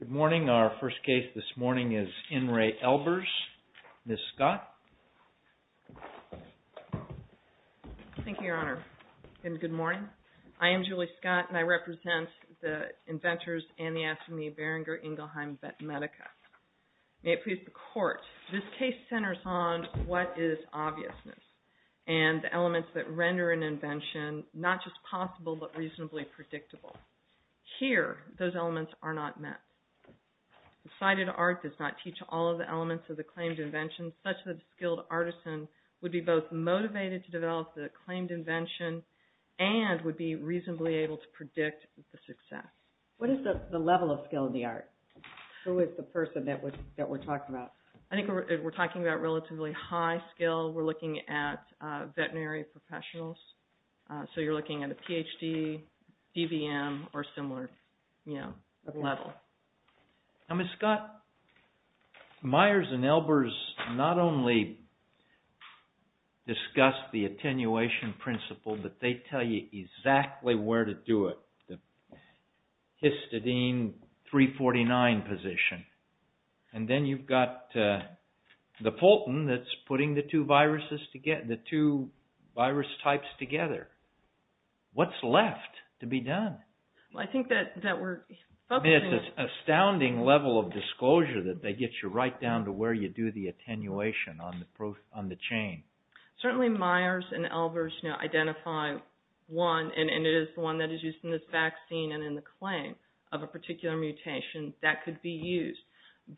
Good morning. Our first case this morning is IN RE ELBERS. Ms. Scott. Thank you, Your Honor, and good morning. I am Julie Scott, and I represent the inventors and the astronomy of Berenger-Ingelheim Medica. May it please the Court, this case centers on what is obviousness and the elements that render an invention not just possible but are not met. Decided art does not teach all of the elements of the claimed invention such that a skilled artisan would be both motivated to develop the claimed invention and would be reasonably able to predict the success. What is the level of skill in the art? Who is the person that we're talking about? I think we're talking about relatively high skill. We're looking at veterinary professionals, so you're looking at a Ph.D., DVM, or similar level. Now, Ms. Scott, Myers and Elbers not only discuss the attenuation principle, but they tell you exactly where to do it, the histidine 349 position. And then you've got the Fulton that's putting the two virus types together. What's left to be done? Well, I think that we're focusing on... I mean, it's an astounding level of disclosure that they get you right down to where you do the attenuation on the chain. Certainly Myers and Elbers identify one, and it is the one that is used in this vaccine and in the claim of a particular mutation that could be used.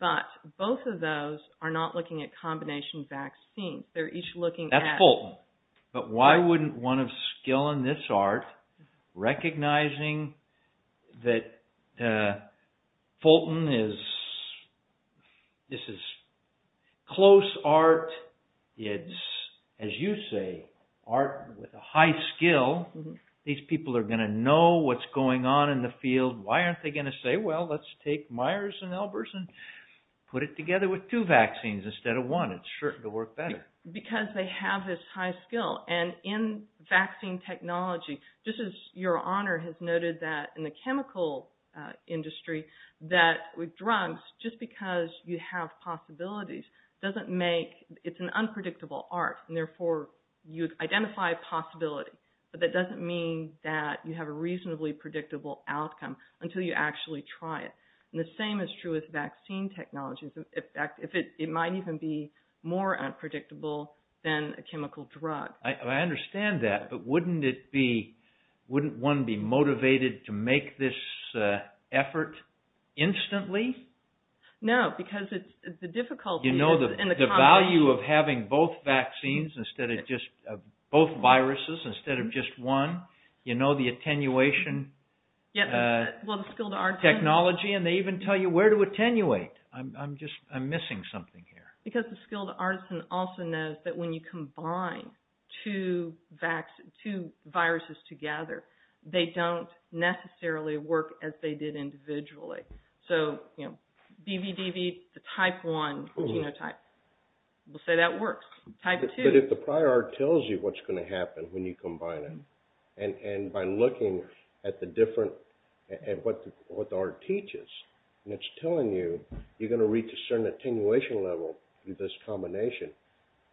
But both of those are not looking at combination vaccines. They're each looking at... That's Fulton. But why wouldn't one of skill in this art, recognizing that Fulton is... This is close art. It's, as you say, art with a high skill. These people are going to know what's going on in the field. Why aren't they going to say, well, let's take Myers and Elbers and put it together with two vaccines instead of one? It's certain to work better. Because they have this high skill. And in vaccine technology, just as your honor has noted that in the chemical industry, that with drugs, just because you have possibilities doesn't make... It's an unpredictable art. And therefore, you identify possibility. But that doesn't mean that you have a reasonably predictable outcome until you actually try it. And the same is true with vaccine technology. In fact, it might even be more unpredictable than a chemical drug. I understand that, but wouldn't it be... Wouldn't one be motivated to make this effort instantly? No, because the difficulty... You know the value of having both vaccines instead of just... Both viruses instead of just one? You know the attenuation technology? And they even tell you where to attenuate. I'm just... I'm missing something here. Because the skilled artisan also knows that when you combine two viruses together, they don't necessarily work as they did individually. So BVDV, the type one genotype, we'll say that works. Type two... And by looking at the different... At what the art teaches, and it's telling you, you're going to reach a certain attenuation level with this combination.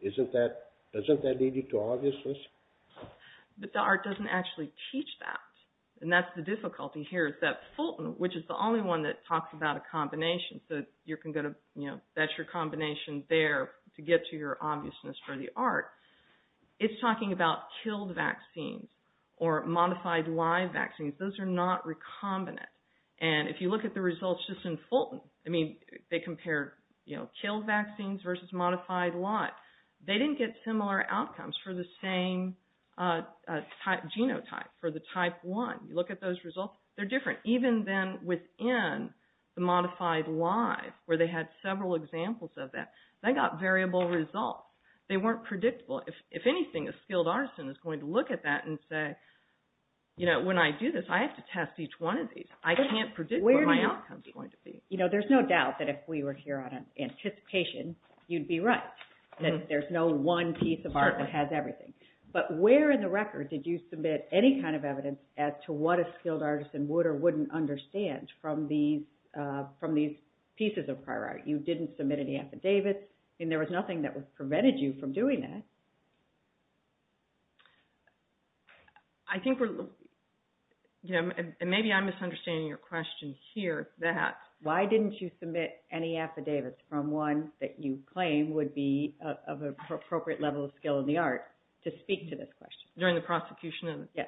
Isn't that... Doesn't that lead you to obviousness? But the art doesn't actually teach that. And that's the difficulty here is that Fulton, which is the only one that talks about a combination, so you can go to, you know, that's your combination there to get to your obviousness for the art. It's talking about killed vaccines or modified live vaccines. Those are not recombinant. And if you look at the results just in Fulton, I mean, they compare, you know, killed vaccines versus modified live. They didn't get similar outcomes for the same genotype, for the type one. You look at those results, they're different. Even then within the modified live, where they had several examples of that, they got variable results. They weren't predictable. If anything, a skilled artisan is going to look at that and say, you know, when I do this, I have to test each one of these. I can't predict what my outcome's going to be. You know, there's no doubt that if we were here on anticipation, you'd be right, that there's no one piece of art that has everything. But where in the record did you submit any kind of evidence as to what a skilled artisan would or wouldn't understand from these pieces of prior art? You didn't submit any affidavits, and there was nothing that prevented you from doing that. I think we're, you know, and maybe I'm misunderstanding your question here, that... Why didn't you submit any affidavits from one that you claim would be of appropriate level of skill in the art to speak to this question? During the prosecution of it? Yes.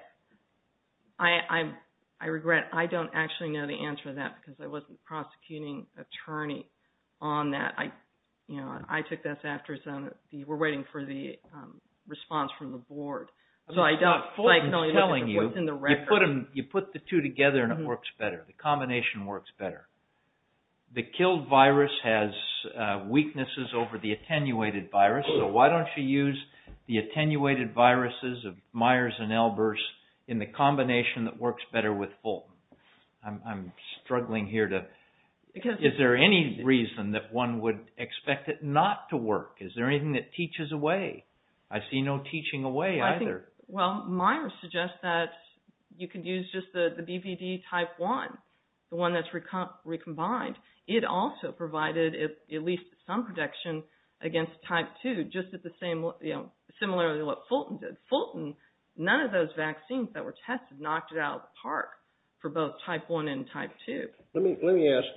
I regret, I don't actually know the answer to that because I wasn't the prosecuting attorney on that. I, you know, I took this after some of the, we're waiting for the response from the board. I'm not fully telling you, you put the two together and it works better. The combination works better. The killed virus has weaknesses over the attenuated virus, so why don't you use the attenuated viruses of Myers and Elbers in the combination that works better with Fulton? I'm struggling here to, is there any reason that one would expect it not to work? Is there anything that teaches a way? I see no teaching a way either. Well, Myers suggests that you could use just the BVD type 1, the one that's recombined. It also provided at least some protection against type 2, just at the same, you know, similarly what Fulton did. Fulton, none of those vaccines that were tested knocked it out of the park for both type 1 and type 2. Let me ask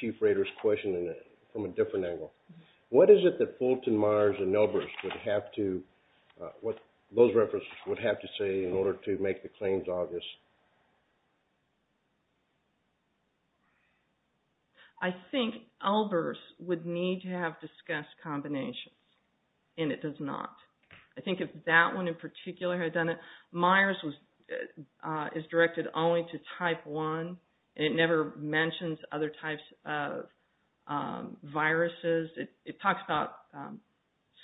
Chief Rader's question from a different angle. What is it that Fulton, Myers, and Elbers would have to, what those references would have to say in order to make the claims obvious? I think Elbers would need to have discussed combinations and it does not. I think if that one in particular had done it, Myers is directed only to type 1. It never mentions other types of viruses. It talks about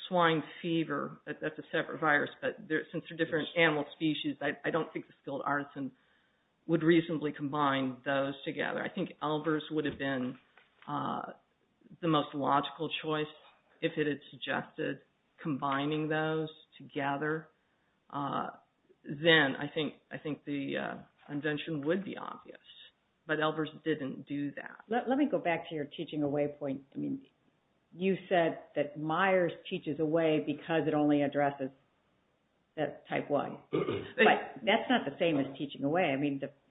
swine fever, that's a separate virus, but since they're different animal species, I don't think the skilled artisan would reasonably combine those together. I think Elbers would have been the most logical choice if it had suggested combining those together. Then I think the invention would be obvious, but Elbers didn't do that. Let me go back to your teaching a way point. You said that Myers teaches a way because it only addresses type 1. That's not the same as teaching a way.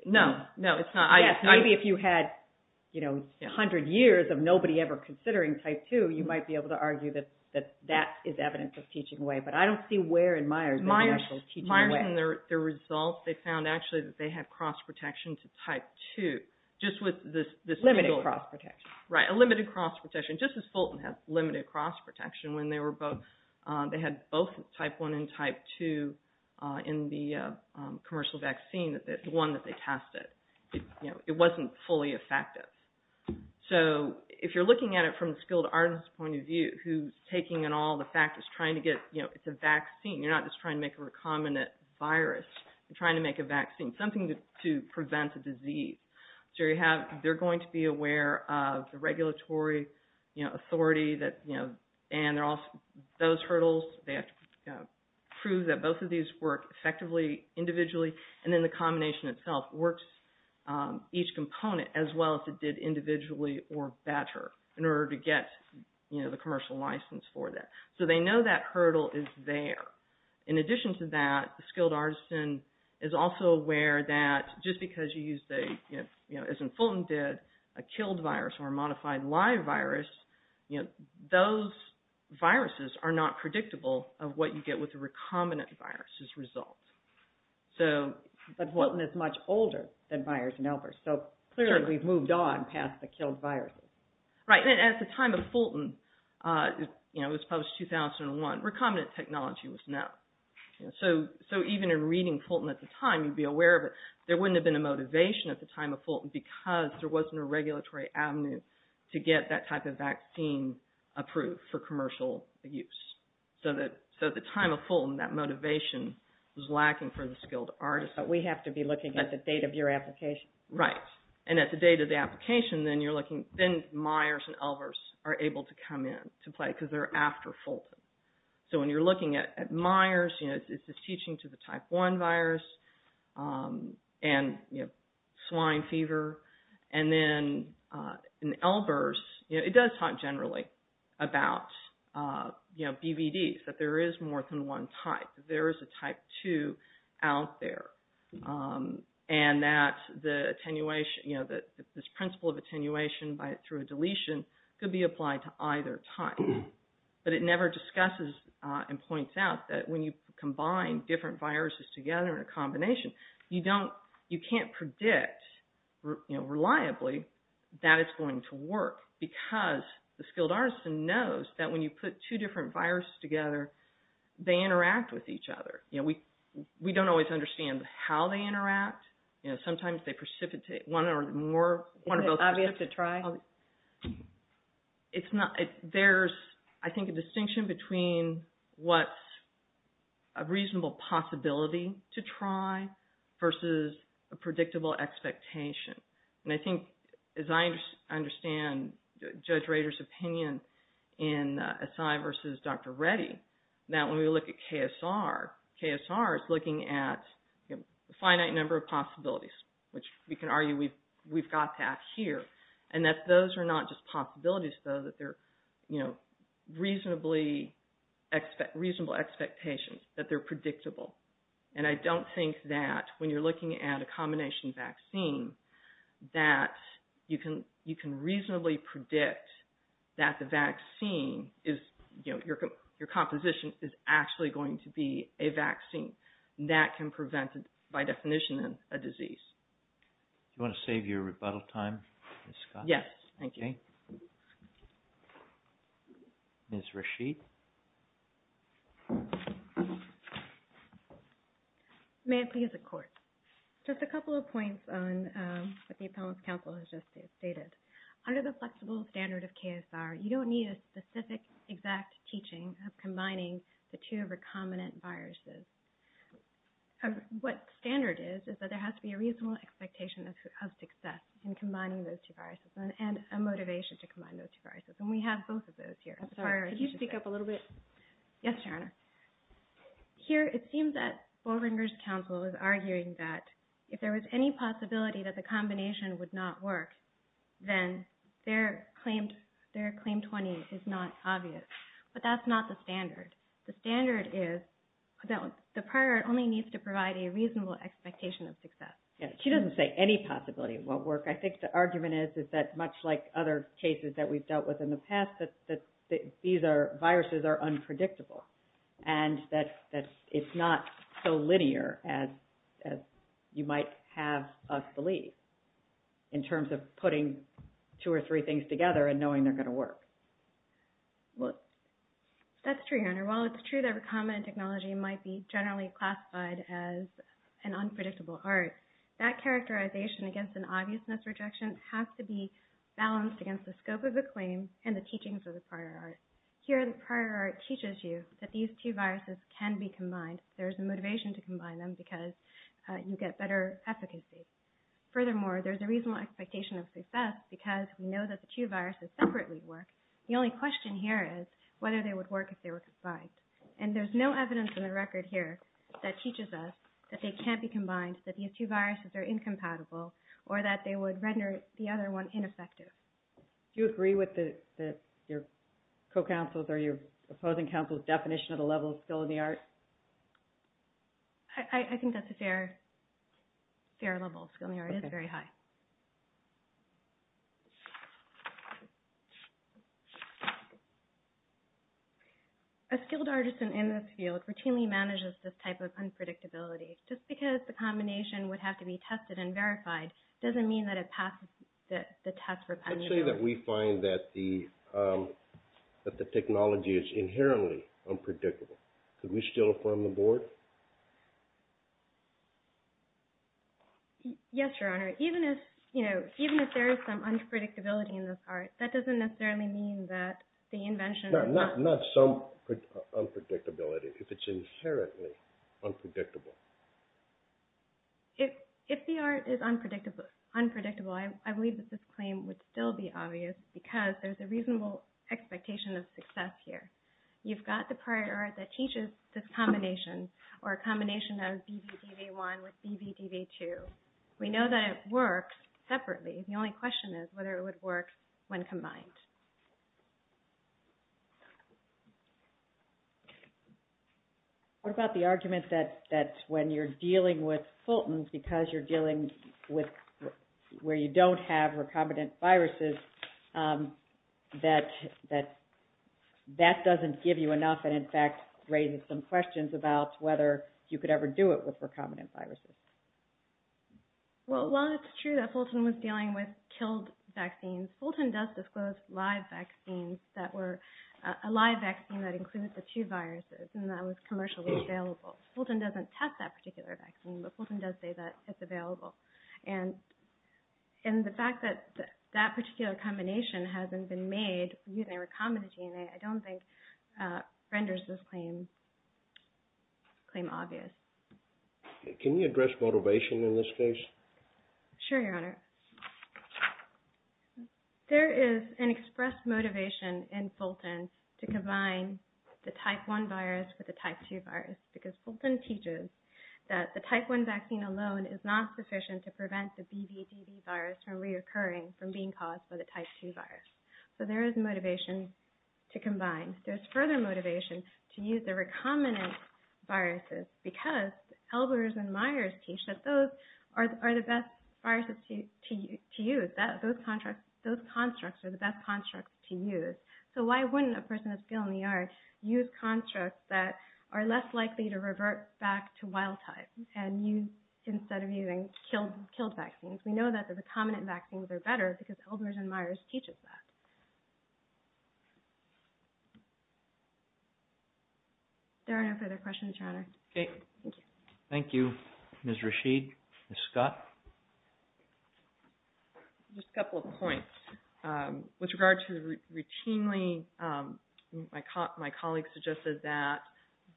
No, it's not. Maybe if you had 100 years of nobody ever considering type 2, you might be able to argue that that is evidence of teaching a way, but I don't see where in Myers they actually teach a way. Myers, in their results, they found actually that they had cross protection to type 2. Limited cross protection. Right, a limited cross protection, just as Fulton had limited cross protection when they had both type 1 and type 2 in the commercial vaccine, the one that they tested. It wasn't fully effective. If you're looking at it from the skilled artisan's point of view who's taking it all, the fact that it's a vaccine, you're not just trying to make a recombinant virus. You're trying to make a vaccine, something to prevent a disease. They're going to be aware of the regulatory authority and those hurdles. They have to prove that both of these work effectively individually and then the combination itself works each component as well as it did individually or better in order to get the commercial license for that. So they know that hurdle is there. In addition to that, the skilled artisan is also aware that just because you use, as Fulton did, a killed virus or a modified live virus, those viruses are not predictable of what you get with the recombinant virus's results. But Fulton is much older than Myers and Albers, so clearly we've moved on past the killed viruses. Right. At the time of Fulton, it was published in 2001, recombinant technology was no. So even in reading Fulton at the time, you'd be aware of it. There wouldn't have been a motivation at the time of Fulton because there wasn't a regulatory avenue to get that type of vaccine approved for commercial use. So at the time of Fulton, that motivation was lacking for the skilled artisan. We have to be looking at the date of your application. Right. And at the date of the application, then you're looking, then Myers and Albers are able to come in to play because they're after Fulton. So when you're looking at Myers, it's this teaching to the type 1 virus and swine fever. And then in Albers, it does talk generally about BVDs, that there is more than one type. There is a type 2 out there. And that the attenuation, you know, this principle of attenuation through a deletion could be applied to either type. But it never discusses and points out that when you combine different viruses together in a combination, you can't predict reliably that it's going to work because the skilled artisan knows that when you put two different viruses together, they interact with each other. You know, we don't always understand how they interact. You know, sometimes they precipitate. One or more, one or both. Is it obvious to try? It's not. There's, I think, a distinction between what's a reasonable possibility to try versus a predictable expectation. And I think, as I understand Judge Rader's opinion in Assai versus Dr. Reddy, that when we look at KSR, KSR is looking at a finite number of possibilities, which we can argue we've got that here. And that those are not just possibilities, though, that they're, you know, reasonable expectations, that they're predictable. And I don't think that when you're looking at a combination vaccine, that you can reasonably predict that the vaccine is, you know, your composition is actually going to be a vaccine that can prevent, by definition, a disease. Do you want to save your rebuttal time, Ms. Scott? Yes, thank you. Okay. Ms. Rasheed? May I please have the court? Just a couple of points on what the appellant's counsel has just stated. Under the flexible standard of KSR, you don't need a specific, exact teaching of combining the two recombinant viruses. What standard is, is that there has to be a reasonable expectation of success in combining those two viruses, and a motivation to combine those two viruses. And we have both of those here. I'm sorry, could you speak up a little bit? Yes, Your Honor. Here, it seems that Boehringer's counsel is arguing that if there was any possibility that the combination would not work, then their claim 20 is not obvious. But that's not the standard. The standard is that the prior only needs to provide a reasonable expectation of success. Yes, she doesn't say any possibility it won't work. I think the argument is, is that much like other cases that we've dealt with in the past, that these viruses are unpredictable, and that it's not so linear as you might have us believe, in terms of putting two or three things together and knowing they're going to work. That's true, Your Honor. While it's true that recombinant technology might be generally classified as an unpredictable art, that characterization against an obviousness rejection has to be balanced against the scope of the claim and the teachings of the prior art. Here, the claim is that these two viruses can be combined. There's a motivation to combine them because you get better efficacy. Furthermore, there's a reasonable expectation of success because we know that the two viruses separately work. The only question here is whether they would work if they were combined. And there's no evidence in the record here that teaches us that they can't be combined, that these two viruses are incompatible, or that they would render the other one ineffective. Do you agree with your co-counsel's or your opposing counsel's definition of the level of skill in the art? I think that's a fair level of skill in the art. It's very high. A skilled artisan in this field routinely manages this type of unpredictability. Just because the combination would have to be tested and verified doesn't mean that it passes the test for penitential. Let's say that we find that the technology is inherently unpredictable. Could we still affirm the board? Yes, Your Honor. Even if there is some unpredictability in this art, that doesn't necessarily mean that the invention... Not some unpredictability. If it's inherently unpredictable. If the art is unpredictable, I believe that this claim would still be obvious because there's a reasonable expectation of success here. You've got the prior art that teaches this combination, or a combination of BVDV1 with BVDV2. We know that it works separately. The only question is whether it would work when combined. What about the argument that when you're dealing with Fulton's, because you're dealing with where you don't have recombinant viruses, that that doesn't give you enough and in fact raises some questions about whether you could ever do it with recombinant viruses? Well, while it's true that Fulton was dealing with killed vaccines, Fulton does disclose live vaccines that were a live vaccine that included the two viruses and that was commercially available. Fulton doesn't test that particular vaccine, but Fulton does say that it's available. And the fact that that particular combination hasn't been made using recombinant DNA, I don't think renders this claim obvious. Can you address motivation in this case? Sure, Your Honor. There is an expressed motivation in Fulton to combine the type 1 virus with the type 2 virus because Fulton teaches that the type 1 vaccine alone is not sufficient to prevent the BVDV virus from reoccurring, from being caused by the type 2 virus. So there is motivation to combine. There's further motivation to use the recombinant viruses because Elbers and Myers teach that those are the best viruses to use. Those constructs are the best constructs to use. So why wouldn't a person with a skill in the art use constructs that are less likely to revert back to wild type instead of using killed vaccines? We know that the recombinant vaccines are better because Elbers and Myers teaches that. There are no further questions, Your Honor. Okay. Thank you. Thank you, Ms. Rasheed. Ms. Scott? Just a couple of points. With regard to routinely, my colleague suggested that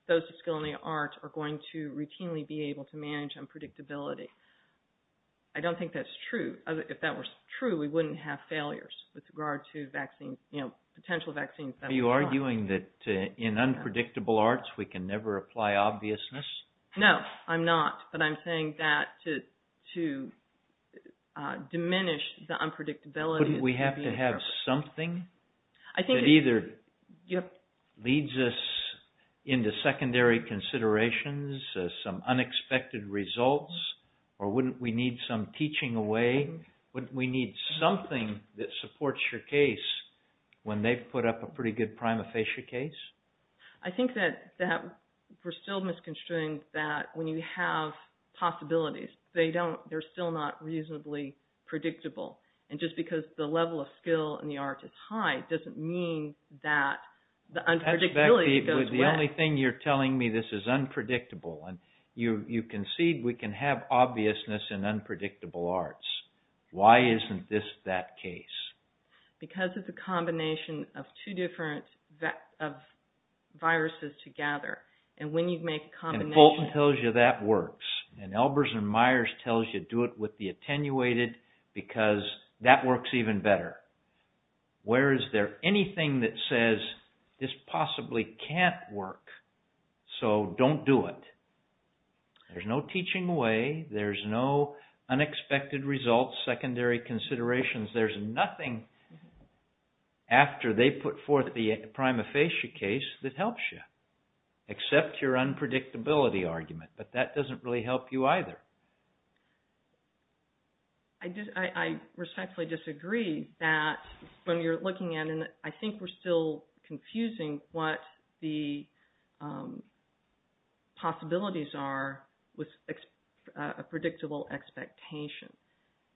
those with skill in the art are going to routinely be able to manage unpredictability. I don't think that's true. If that were true, we wouldn't have failures with regard to vaccines, you know, potential vaccines. Are you arguing that in unpredictable arts we can never apply obviousness? No, I'm not. But I'm saying that to diminish the unpredictability... Wouldn't we have to have something that either leads us into secondary considerations, some leading away? Wouldn't we need something that supports your case when they've put up a pretty good prima facie case? I think that we're still misconstruing that when you have possibilities, they're still not reasonably predictable. And just because the level of skill in the art is high doesn't mean that the unpredictability goes away. That's about the only thing you're telling me this is unpredictable. And you concede we can have obviousness in unpredictable arts. Why isn't this that case? Because of the combination of two different viruses together. And when you make a combination... Colton tells you that works. And Elbers and Myers tells you do it with the attenuated because that works even better. Where is there anything that says this possibly can't work, so don't do it. There's no teaching away. There's no unexpected results, secondary considerations. There's nothing after they put forth the prima facie case that helps you, except your unpredictability argument. But that doesn't really help you either. I respectfully disagree that when you're looking at it, I think we're still confusing what the possibilities are with a predictable expectation.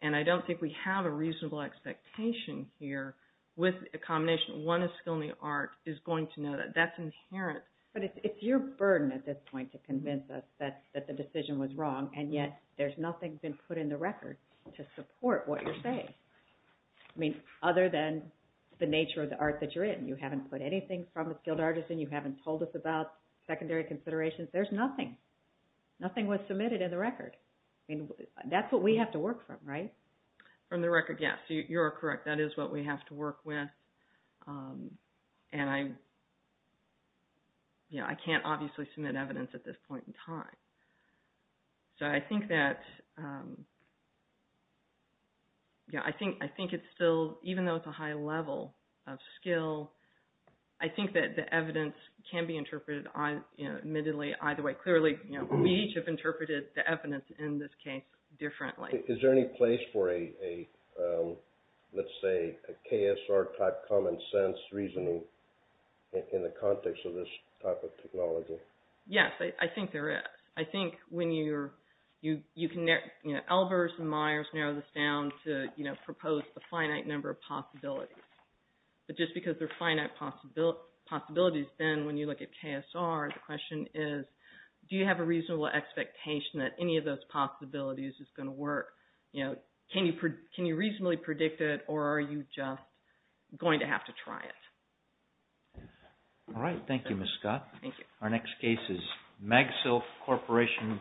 And I don't think we have a reasonable expectation here with a combination. One is skill in the art is going to know that. That's inherent. But it's your burden at this point to convince us that the decision was wrong, and yet there's nothing been put in the record to support what you're saying. I mean, other than the nature of the art that you're in. You haven't put anything from a skilled artist in. You haven't told us about secondary considerations. There's nothing. Nothing was submitted in the record. I mean, that's what we have to work from, right? From the record, yes. You're correct. That is what we have to work with. And I can't obviously submit evidence at this point in time. So I think that, yeah, I think it's still, even though it's a high level of skill, I think that the evidence can be interpreted admittedly either way. Clearly, we each have interpreted the evidence in this case differently. Is there any place for a, let's say, a KSR type common sense reasoning in the context of this type of technology? Yes, I think there is. I think when you're, you can, Elvers and Myers narrow this down to propose a finite number of possibilities. But just because they're finite possibilities, then when you look at KSR, the question is do you have a reasonable expectation that any of those possibilities is going to work? Can you reasonably predict it, or are you just going to have to try it? All right. Thank you, Ms. Scott. Thank you. Our next case is MagSilk Corporation versus...